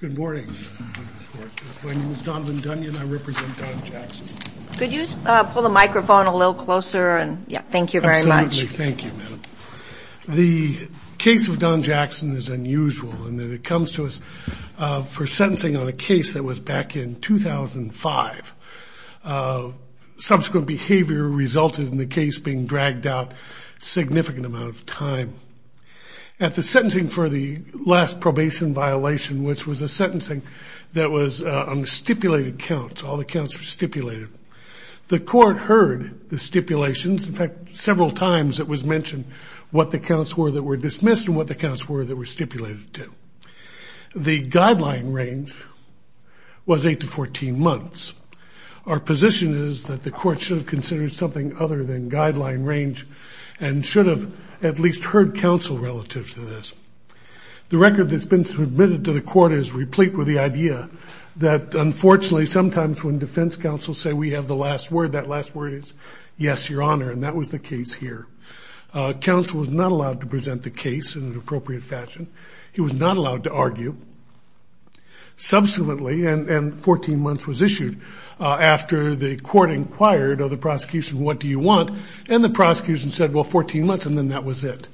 Good morning. My name is Donovan Dunyon. I represent Don Jackson. Could you pull the microphone a little closer? Thank you very much. Absolutely. Thank you, madam. The case of Don Jackson is unusual in that it comes to us for sentencing on a case that was back in 2005. Subsequent behavior resulted in the case being dragged out a significant amount of time. At the sentencing for the last probation violation, which was a sentencing that was on stipulated counts, all the counts were stipulated, the court heard the stipulations. In fact, several times it was mentioned what the counts were that were dismissed and what the counts were that were stipulated to. The guideline range was 8 to 14 months. Our position is that the court should have considered something other than guideline range and should have at least heard counsel relative to this. The record that's been submitted to the court is replete with the idea that, unfortunately, sometimes when defense counsel say we have the last word, that last word is yes, your honor, and that was the case here. Counsel was not allowed to present the case in an appropriate fashion. He was not allowed to argue. Subsequently, and 14 months was issued after the court inquired of the prosecution, what do you want, and the prosecution said, well, 14 months, and then that was it.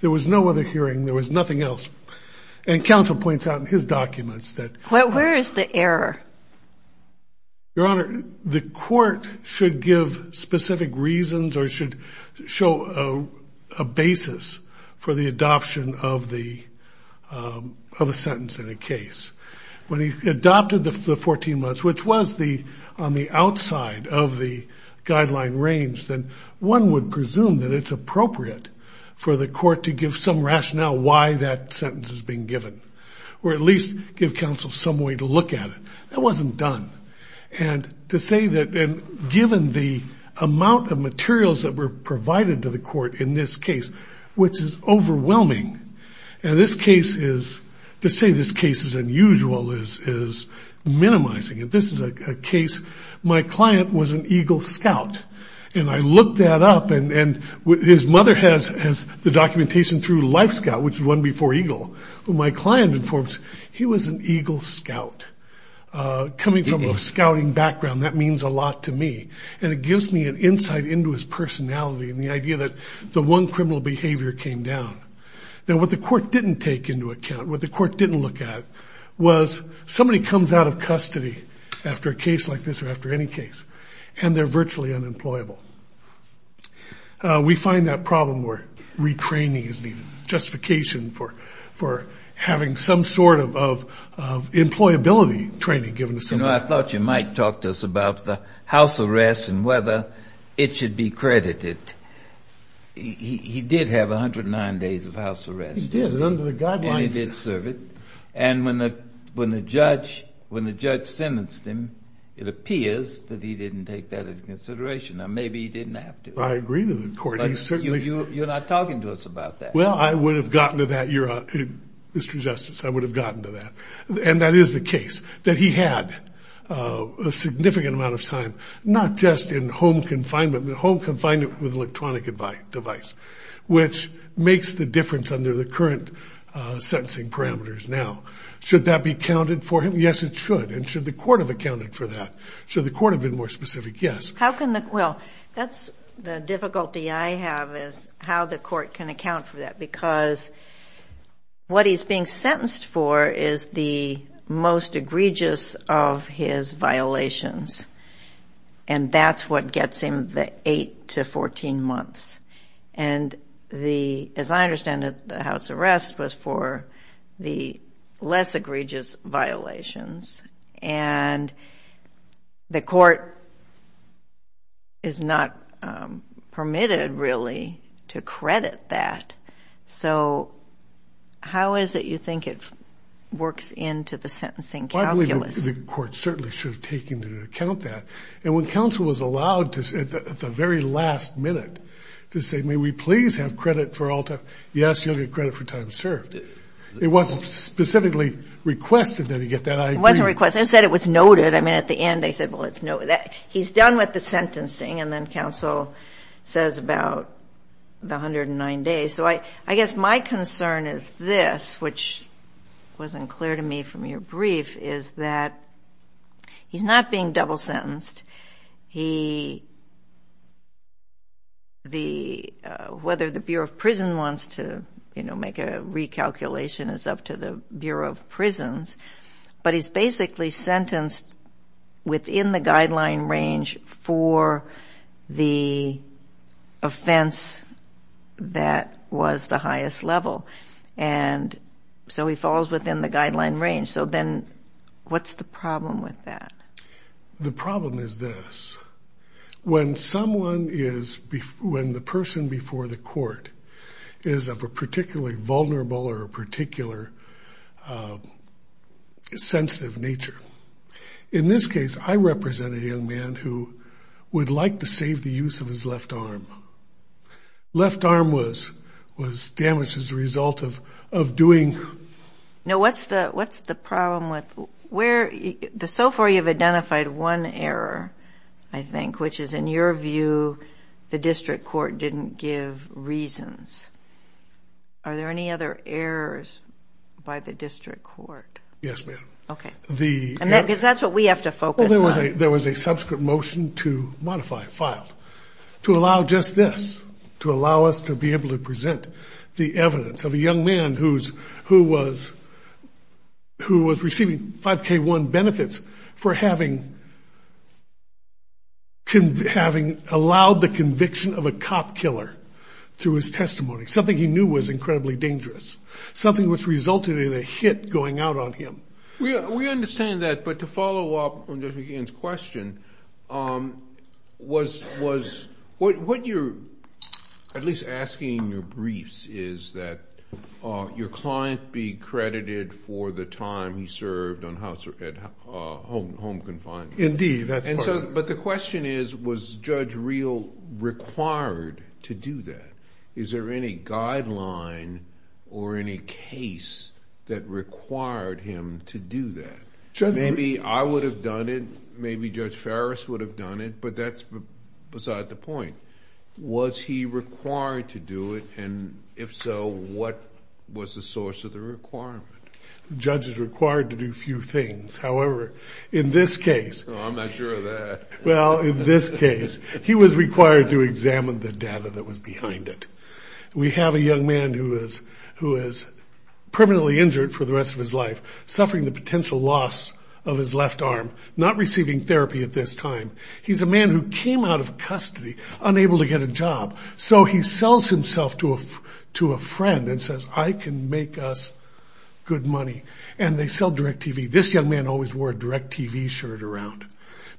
There was no other hearing. There was nothing else. And counsel points out in his documents that. Where is the error? Your honor, the court should give specific reasons or should show a basis for the adoption of a sentence in a case. When he adopted the 14 months, which was on the outside of the guideline range, then one would presume that it's appropriate for the court to give some rationale why that sentence is being given or at least give counsel some way to look at it. That wasn't done. And to say that given the amount of materials that were provided to the court in this case, which is overwhelming, and this case is, to say this case is unusual is minimizing it. This is a case. My client was an Eagle Scout, and I looked that up, and his mother has the documentation through Life Scout, which is one before Eagle. My client informs, he was an Eagle Scout. Coming from a scouting background, that means a lot to me, and it gives me an insight into his personality and the idea that the one criminal behavior came down. Now, what the court didn't take into account, what the court didn't look at, was somebody comes out of custody after a case like this or after any case, and they're virtually unemployable. We find that problem where retraining is needed, justification for having some sort of employability training given to somebody. You know, I thought you might talk to us about the house arrest and whether it should be credited. He did have 109 days of house arrest, didn't he? He did, and under the guidelines. And he did serve it. And when the judge sentenced him, it appears that he didn't take that into consideration. Now, maybe he didn't have to. I agree with the court. You're not talking to us about that. Well, I would have gotten to that, Mr. Justice, I would have gotten to that. And that is the case, that he had a significant amount of time, not just in home confinement, but home confinement with an electronic device, which makes the difference under the current sentencing parameters now. Should that be counted for him? Yes, it should. And should the court have accounted for that? Should the court have been more specific? Yes. Well, that's the difficulty I have is how the court can account for that, because what he's being sentenced for is the most egregious of his violations, and that's what gets him the 8 to 14 months. And as I understand it, the house arrest was for the less egregious violations, and the court is not permitted, really, to credit that. So how is it you think it works into the sentencing calculus? The court certainly should have taken into account that. And when counsel was allowed at the very last minute to say, may we please have credit for all time, yes, you'll get credit for time served. It wasn't specifically requested that he get that. It wasn't requested. It said it was noted. I mean, at the end they said, well, it's noted. He's done with the sentencing, and then counsel says about the 109 days. So I guess my concern is this, which wasn't clear to me from your brief, is that he's not being double sentenced. He, the, whether the Bureau of Prison wants to, you know, make a recalculation is up to the Bureau of Prisons, but he's basically sentenced within the guideline range for the offense that was the highest level. And so he falls within the guideline range. So then what's the problem with that? The problem is this. When someone is, when the person before the court is of a particularly vulnerable or a particular sensitive nature, in this case, I represent a young man who would like to save the use of his left arm. Left arm was damaged as a result of doing. Now, what's the problem with, where, so far you've identified one error, I think, which is, in your view, the district court didn't give reasons. Are there any other errors by the district court? Yes, ma'am. Okay. Because that's what we have to focus on. Well, there was a subsequent motion to modify, filed, to allow just this, to allow us to be able to present the evidence of a young man who was receiving 5K1 benefits for having allowed the conviction of a cop killer through his testimony, something he knew was incredibly dangerous, something which resulted in a hit going out on him. We understand that, but to follow up on Judge McGinn's question, what you're at least asking in your briefs is that your client be credited for the time he served on home confinement. Indeed, that's part of it. But the question is, was Judge Reel required to do that? Is there any guideline or any case that required him to do that? Maybe I would have done it, maybe Judge Ferris would have done it, but that's beside the point. Was he required to do it, and if so, what was the source of the requirement? The judge is required to do a few things. However, in this case. I'm not sure of that. Well, in this case, he was required to examine the data that was behind it. We have a young man who is permanently injured for the rest of his life, suffering the potential loss of his left arm, not receiving therapy at this time. He's a man who came out of custody unable to get a job, so he sells himself to a friend and says, I can make us good money, and they sell DirecTV. This young man always wore a DirecTV shirt around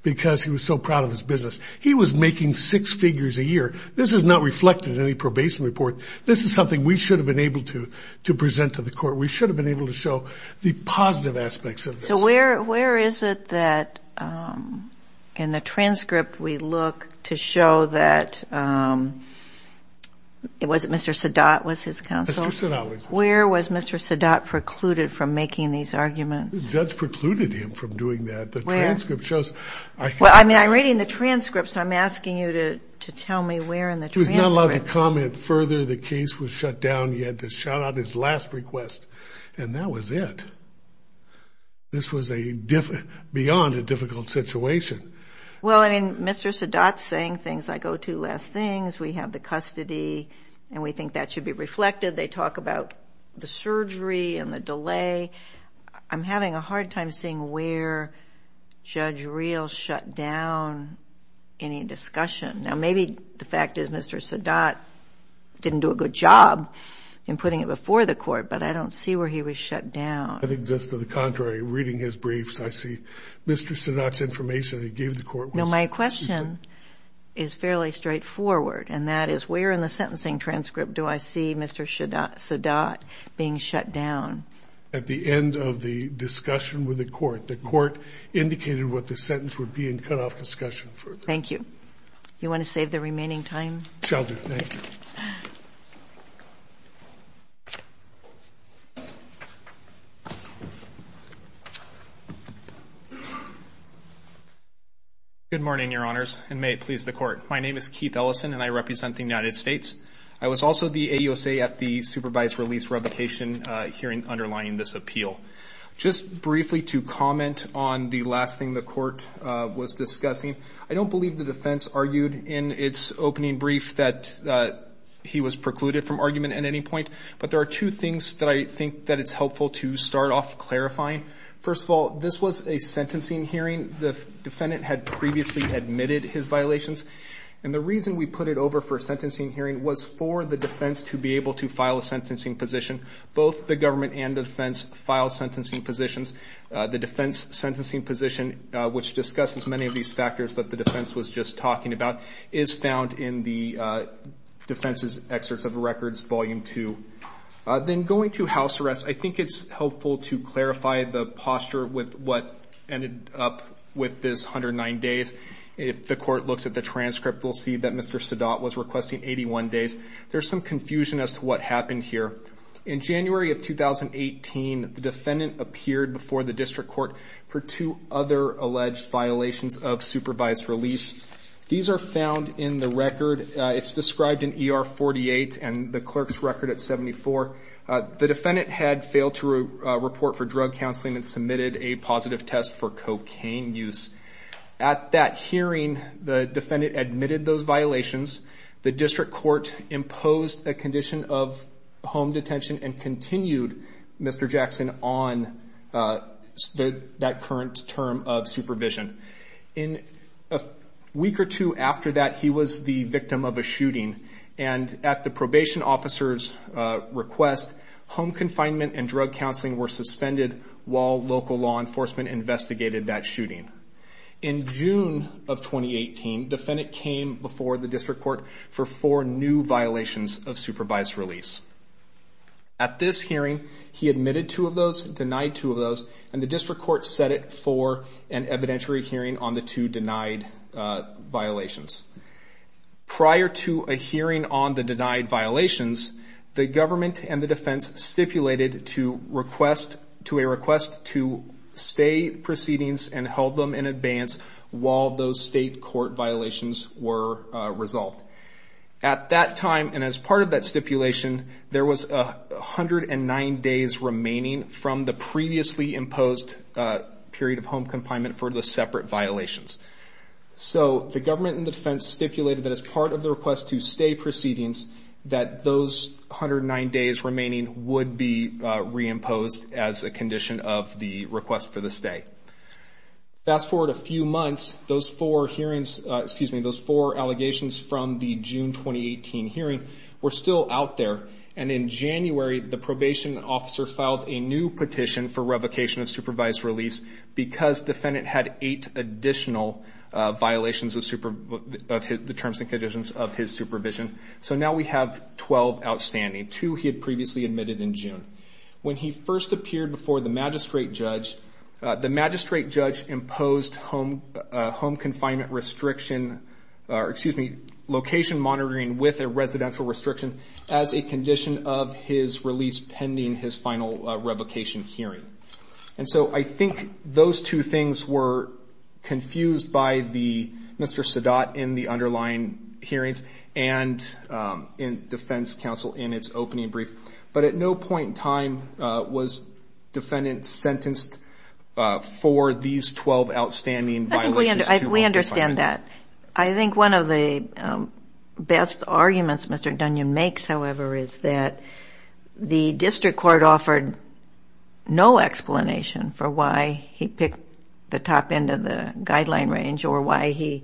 because he was so proud of his business. He was making six figures a year. This is not reflected in any probation report. This is something we should have been able to present to the court. We should have been able to show the positive aspects of this. Where is it that in the transcript we look to show that Mr. Sadat was his counsel? Mr. Sadat was his counsel. Where was Mr. Sadat precluded from making these arguments? The judge precluded him from doing that. Where? The transcript shows. Well, I'm reading the transcript, so I'm asking you to tell me where in the transcript. He was not allowed to comment further. The case was shut down. He had to shout out his last request, and that was it. This was beyond a difficult situation. Well, I mean, Mr. Sadat's saying things like, oh, two last things. We have the custody, and we think that should be reflected. They talk about the surgery and the delay. I'm having a hard time seeing where Judge Reel shut down any discussion. Now, maybe the fact is Mr. Sadat didn't do a good job in putting it before the court, but I don't see where he was shut down. I think just to the contrary, reading his briefs, I see Mr. Sadat's information he gave the court was. No, my question is fairly straightforward, and that is where in the sentencing transcript do I see Mr. Sadat being shut down? At the end of the discussion with the court. The court indicated what the sentence would be and cut off discussion further. Thank you. You want to save the remaining time? Shall do. Thank you. Good morning, Your Honors, and may it please the court. My name is Keith Ellison, and I represent the United States. I was also the AUSA at the supervised release revocation hearing underlying this appeal. Just briefly to comment on the last thing the court was discussing, I don't believe the defense argued in its opening brief that he was precluded from argument at any point, but there are two things that I think that it's helpful to start off clarifying. First of all, this was a sentencing hearing. The defendant had previously admitted his violations, and the reason we put it over for a sentencing hearing was for the defense to be able to file a sentencing position. Both the government and the defense file sentencing positions. The defense sentencing position, which discusses many of these factors that the defense was just talking about, is found in the defense's excerpts of records, Volume 2. Then going to house arrest, I think it's helpful to clarify the posture with what ended up with this 109 days. If the court looks at the transcript, we'll see that Mr. Sadat was requesting 81 days. There's some confusion as to what happened here. In January of 2018, the defendant appeared before the district court for two other alleged violations of supervised release. These are found in the record. It's described in ER 48 and the clerk's record at 74. The defendant had failed to report for drug counseling and submitted a positive test for cocaine use. At that hearing, the defendant admitted those violations. The district court imposed a condition of home detention and continued Mr. Jackson on that current term of supervision. A week or two after that, he was the victim of a shooting. At the probation officer's request, home confinement and drug counseling were suspended while local law enforcement investigated that shooting. In June of 2018, the defendant came before the district court for four new violations of supervised release. At this hearing, he admitted two of those, denied two of those, and the district court set it for an evidentiary hearing on the two denied violations. Prior to a hearing on the denied violations, the government and the defense stipulated to a request to stay proceedings and held them in advance while those state court violations were resolved. At that time and as part of that stipulation, there was 109 days remaining from the previously imposed period of home confinement for the separate violations. So the government and defense stipulated that as part of the request to stay proceedings, that those 109 days remaining would be reimposed as a condition of the request for the stay. Fast forward a few months, those four allegations from the June 2018 hearing were still out there. And in January, the probation officer filed a new petition for revocation of supervised release because the defendant had eight additional violations of the terms and conditions of his supervision. So now we have 12 outstanding, two he had previously admitted in June. When he first appeared before the magistrate judge, the magistrate judge imposed home confinement restriction, or excuse me, location monitoring with a residential restriction as a condition of his release pending his final revocation hearing. And so I think those two things were confused by Mr. Sadat in the underlying hearings and in defense counsel in its opening brief. But at no point in time was defendant sentenced for these 12 outstanding violations. We understand that. I think one of the best arguments Mr. Dunyon makes, however, is that the district court offered no explanation for why he picked the top end of the guideline range or why he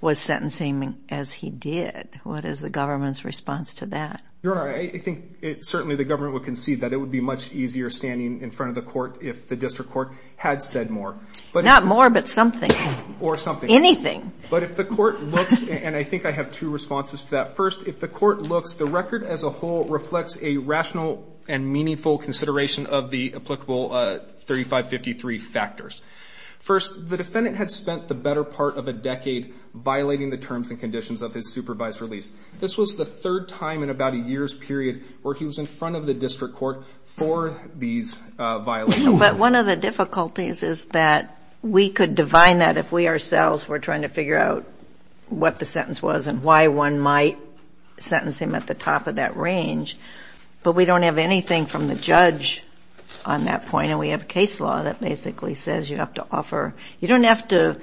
was sentencing as he did. What is the government's response to that? Your Honor, I think certainly the government would concede that it would be much easier standing in front of the court if the district court had said more. Not more, but something. Or something. Anything. But if the court looks, and I think I have two responses to that. First, if the court looks, the record as a whole reflects a rational and meaningful consideration of the applicable 3553 factors. First, the defendant had spent the better part of a decade violating the terms and conditions of his supervised release. This was the third time in about a year's period where he was in front of the district court for these violations. But one of the difficulties is that we could divine that if we ourselves were trying to figure out what the sentence was and why one might sentence him at the top of that range. But we don't have anything from the judge on that point, and we have a case law that basically says you have to offer. You don't have to,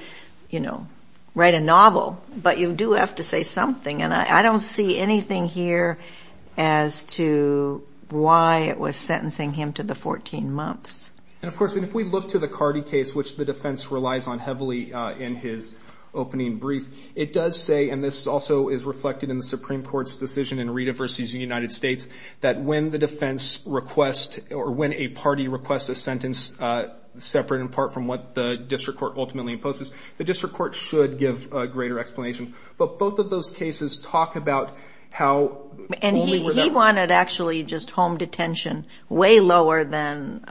you know, write a novel, but you do have to say something. And I don't see anything here as to why it was sentencing him to the 14 months. And, of course, if we look to the Cardi case, which the defense relies on heavily in his opening brief, it does say, and this also is reflected in the Supreme Court's decision in Rita v. United States, that when the defense requests or when a party requests a sentence separate in part from what the district court ultimately imposes, the district court should give a greater explanation. But both of those cases talk about how only without... And he wanted actually just home detention way lower than...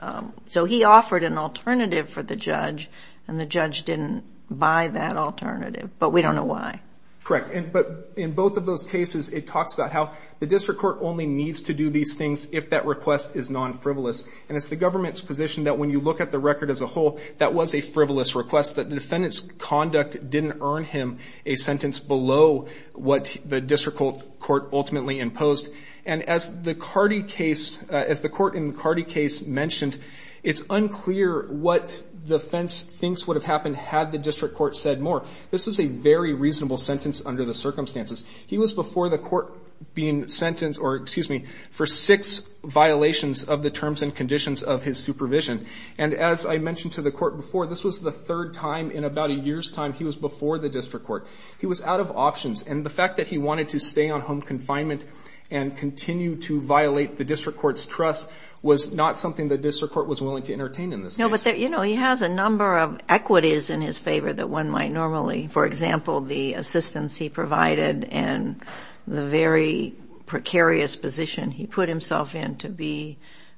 So he offered an alternative for the judge, and the judge didn't buy that alternative. But we don't know why. Correct. But in both of those cases, it talks about how the district court only needs to do these things if that request is non-frivolous. And it's the government's position that when you look at the record as a whole, that was a frivolous request, that the defendant's conduct didn't earn him a sentence below what the district court ultimately imposed. And as the Cardi case, as the court in the Cardi case mentioned, it's unclear what defense thinks would have happened had the district court said more. This was a very reasonable sentence under the circumstances. He was before the court being sentenced or, excuse me, for six violations of the terms and conditions of his supervision. And as I mentioned to the court before, this was the third time in about a year's time he was before the district court. He was out of options. And the fact that he wanted to stay on home confinement and continue to violate the district court's trust was not something the district court was willing to entertain in this case. No, but, you know, he has a number of equities in his favor that one might normally. For example, the assistance he provided and the very precarious position he put himself in to be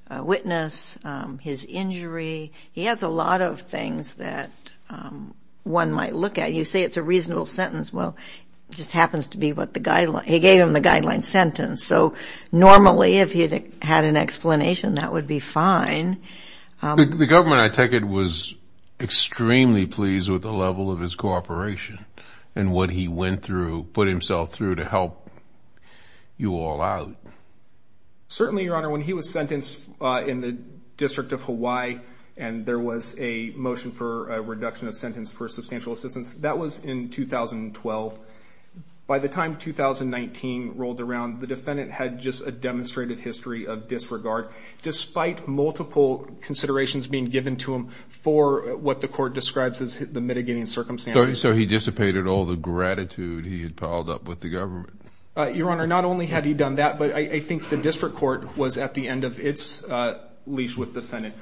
a witness, his injury, he has a lot of things that one might look at. You say it's a reasonable sentence. Well, it just happens to be what the guideline, he gave him the guideline sentence. So normally if he had an explanation, that would be fine. The government, I take it, was extremely pleased with the level of his cooperation and what he went through, put himself through to help you all out. Certainly, Your Honor, when he was sentenced in the District of Hawaii and there was a motion for a reduction of sentence for substantial assistance, that was in 2012. By the time 2019 rolled around, the defendant had just a demonstrated history of disregard, despite multiple considerations being given to him for what the court describes as the mitigating circumstances. So he dissipated all the gratitude he had piled up with the government. Your Honor, not only had he done that, but I think the district court was at the end of its leash with the defendant.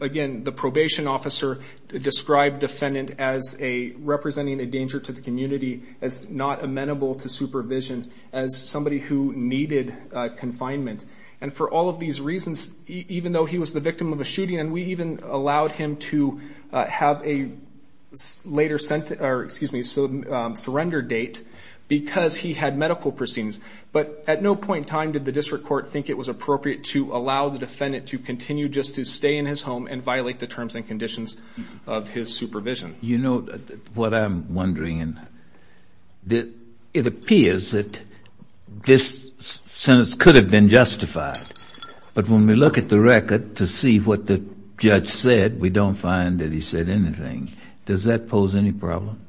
Again, the probation officer described the defendant as representing a danger to the community, as not amenable to supervision, as somebody who needed confinement. And for all of these reasons, even though he was the victim of a shooting, and we even allowed him to have a later, excuse me, surrender date because he had medical proceedings. But at no point in time did the district court think it was appropriate to allow the defendant to continue just to stay in his home and violate the terms and conditions of his supervision. You know what I'm wondering? It appears that this sentence could have been justified. But when we look at the record to see what the judge said, we don't find that he said anything. Does that pose any problem?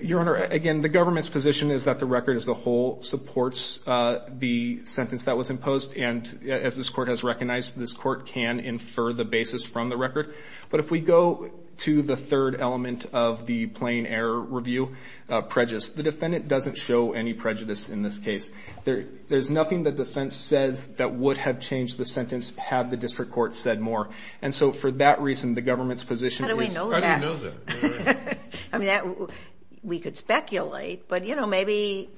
Your Honor, again, the government's position is that the record as a whole supports the sentence that was imposed. And as this court has recognized, this court can infer the basis from the record. But if we go to the third element of the plain error review, prejudice, the defendant doesn't show any prejudice in this case. There's nothing the defense says that would have changed the sentence had the district court said more. And so for that reason, the government's position is... How do we know that? I mean, we could speculate. But, you know, maybe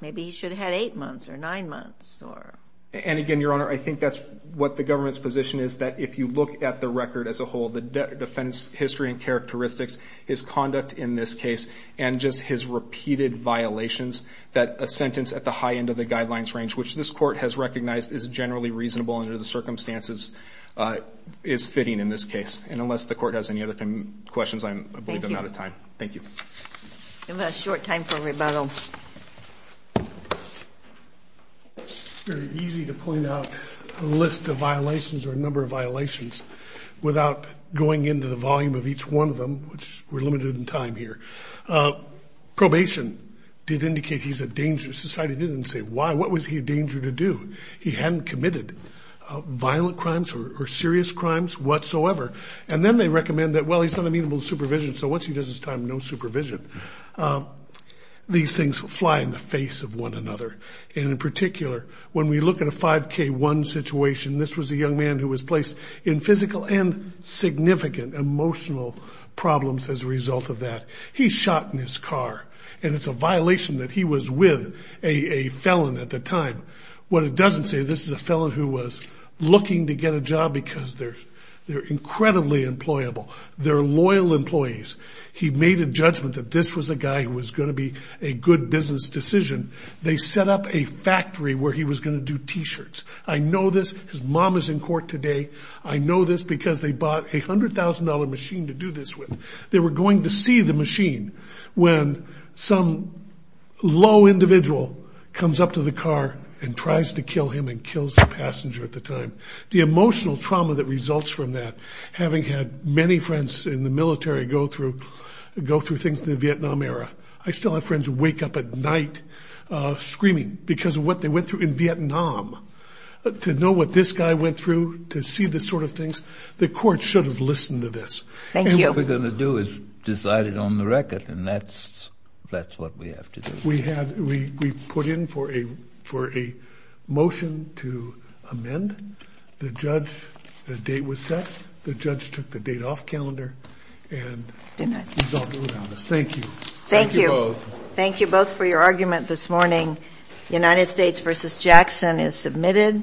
he should have had eight months or nine months or... And again, Your Honor, I think that's what the government's position is, that if you look at the record as a whole, the defense history and characteristics, his conduct in this case, and just his repeated violations, that a sentence at the high end of the guidelines range, which this court has recognized is generally reasonable under the circumstances, is fitting in this case. And unless the court has any other questions, I believe I'm out of time. Thank you. We have a short time for rebuttal. It's very easy to point out a list of violations or a number of violations without going into the volume of each one of them, which we're limited in time here. Probation did indicate he's a danger. Society didn't say why. What was he a danger to do? He hadn't committed violent crimes or serious crimes whatsoever. And then they recommend that, well, he's not amenable to supervision, so once he does his time, no supervision. These things fly in the face of one another. And in particular, when we look at a 5K1 situation, this was a young man who was placed in physical and significant emotional problems as a result of that. He shot in his car, and it's a violation that he was with a felon at the time. What it doesn't say, this is a felon who was looking to get a job because they're incredibly employable. They're loyal employees. He made a judgment that this was a guy who was going to be a good business decision. They set up a factory where he was going to do T-shirts. I know this. His mom is in court today. I know this because they bought a $100,000 machine to do this with. They were going to see the machine when some low individual comes up to the car and tries to kill him and kills the passenger at the time. The emotional trauma that results from that, having had many friends in the military go through things in the Vietnam era, I still have friends who wake up at night screaming because of what they went through in Vietnam. To know what this guy went through, to see the sort of things, the court should have listened to this. Thank you. What we're going to do is decide it on the record, and that's what we have to do. We put in for a motion to amend. The judge, the date was set. The judge took the date off calendar, and he's all good on this. Thank you. Thank you. Thank you both. That's all for your argument this morning. United States v. Jackson is submitted.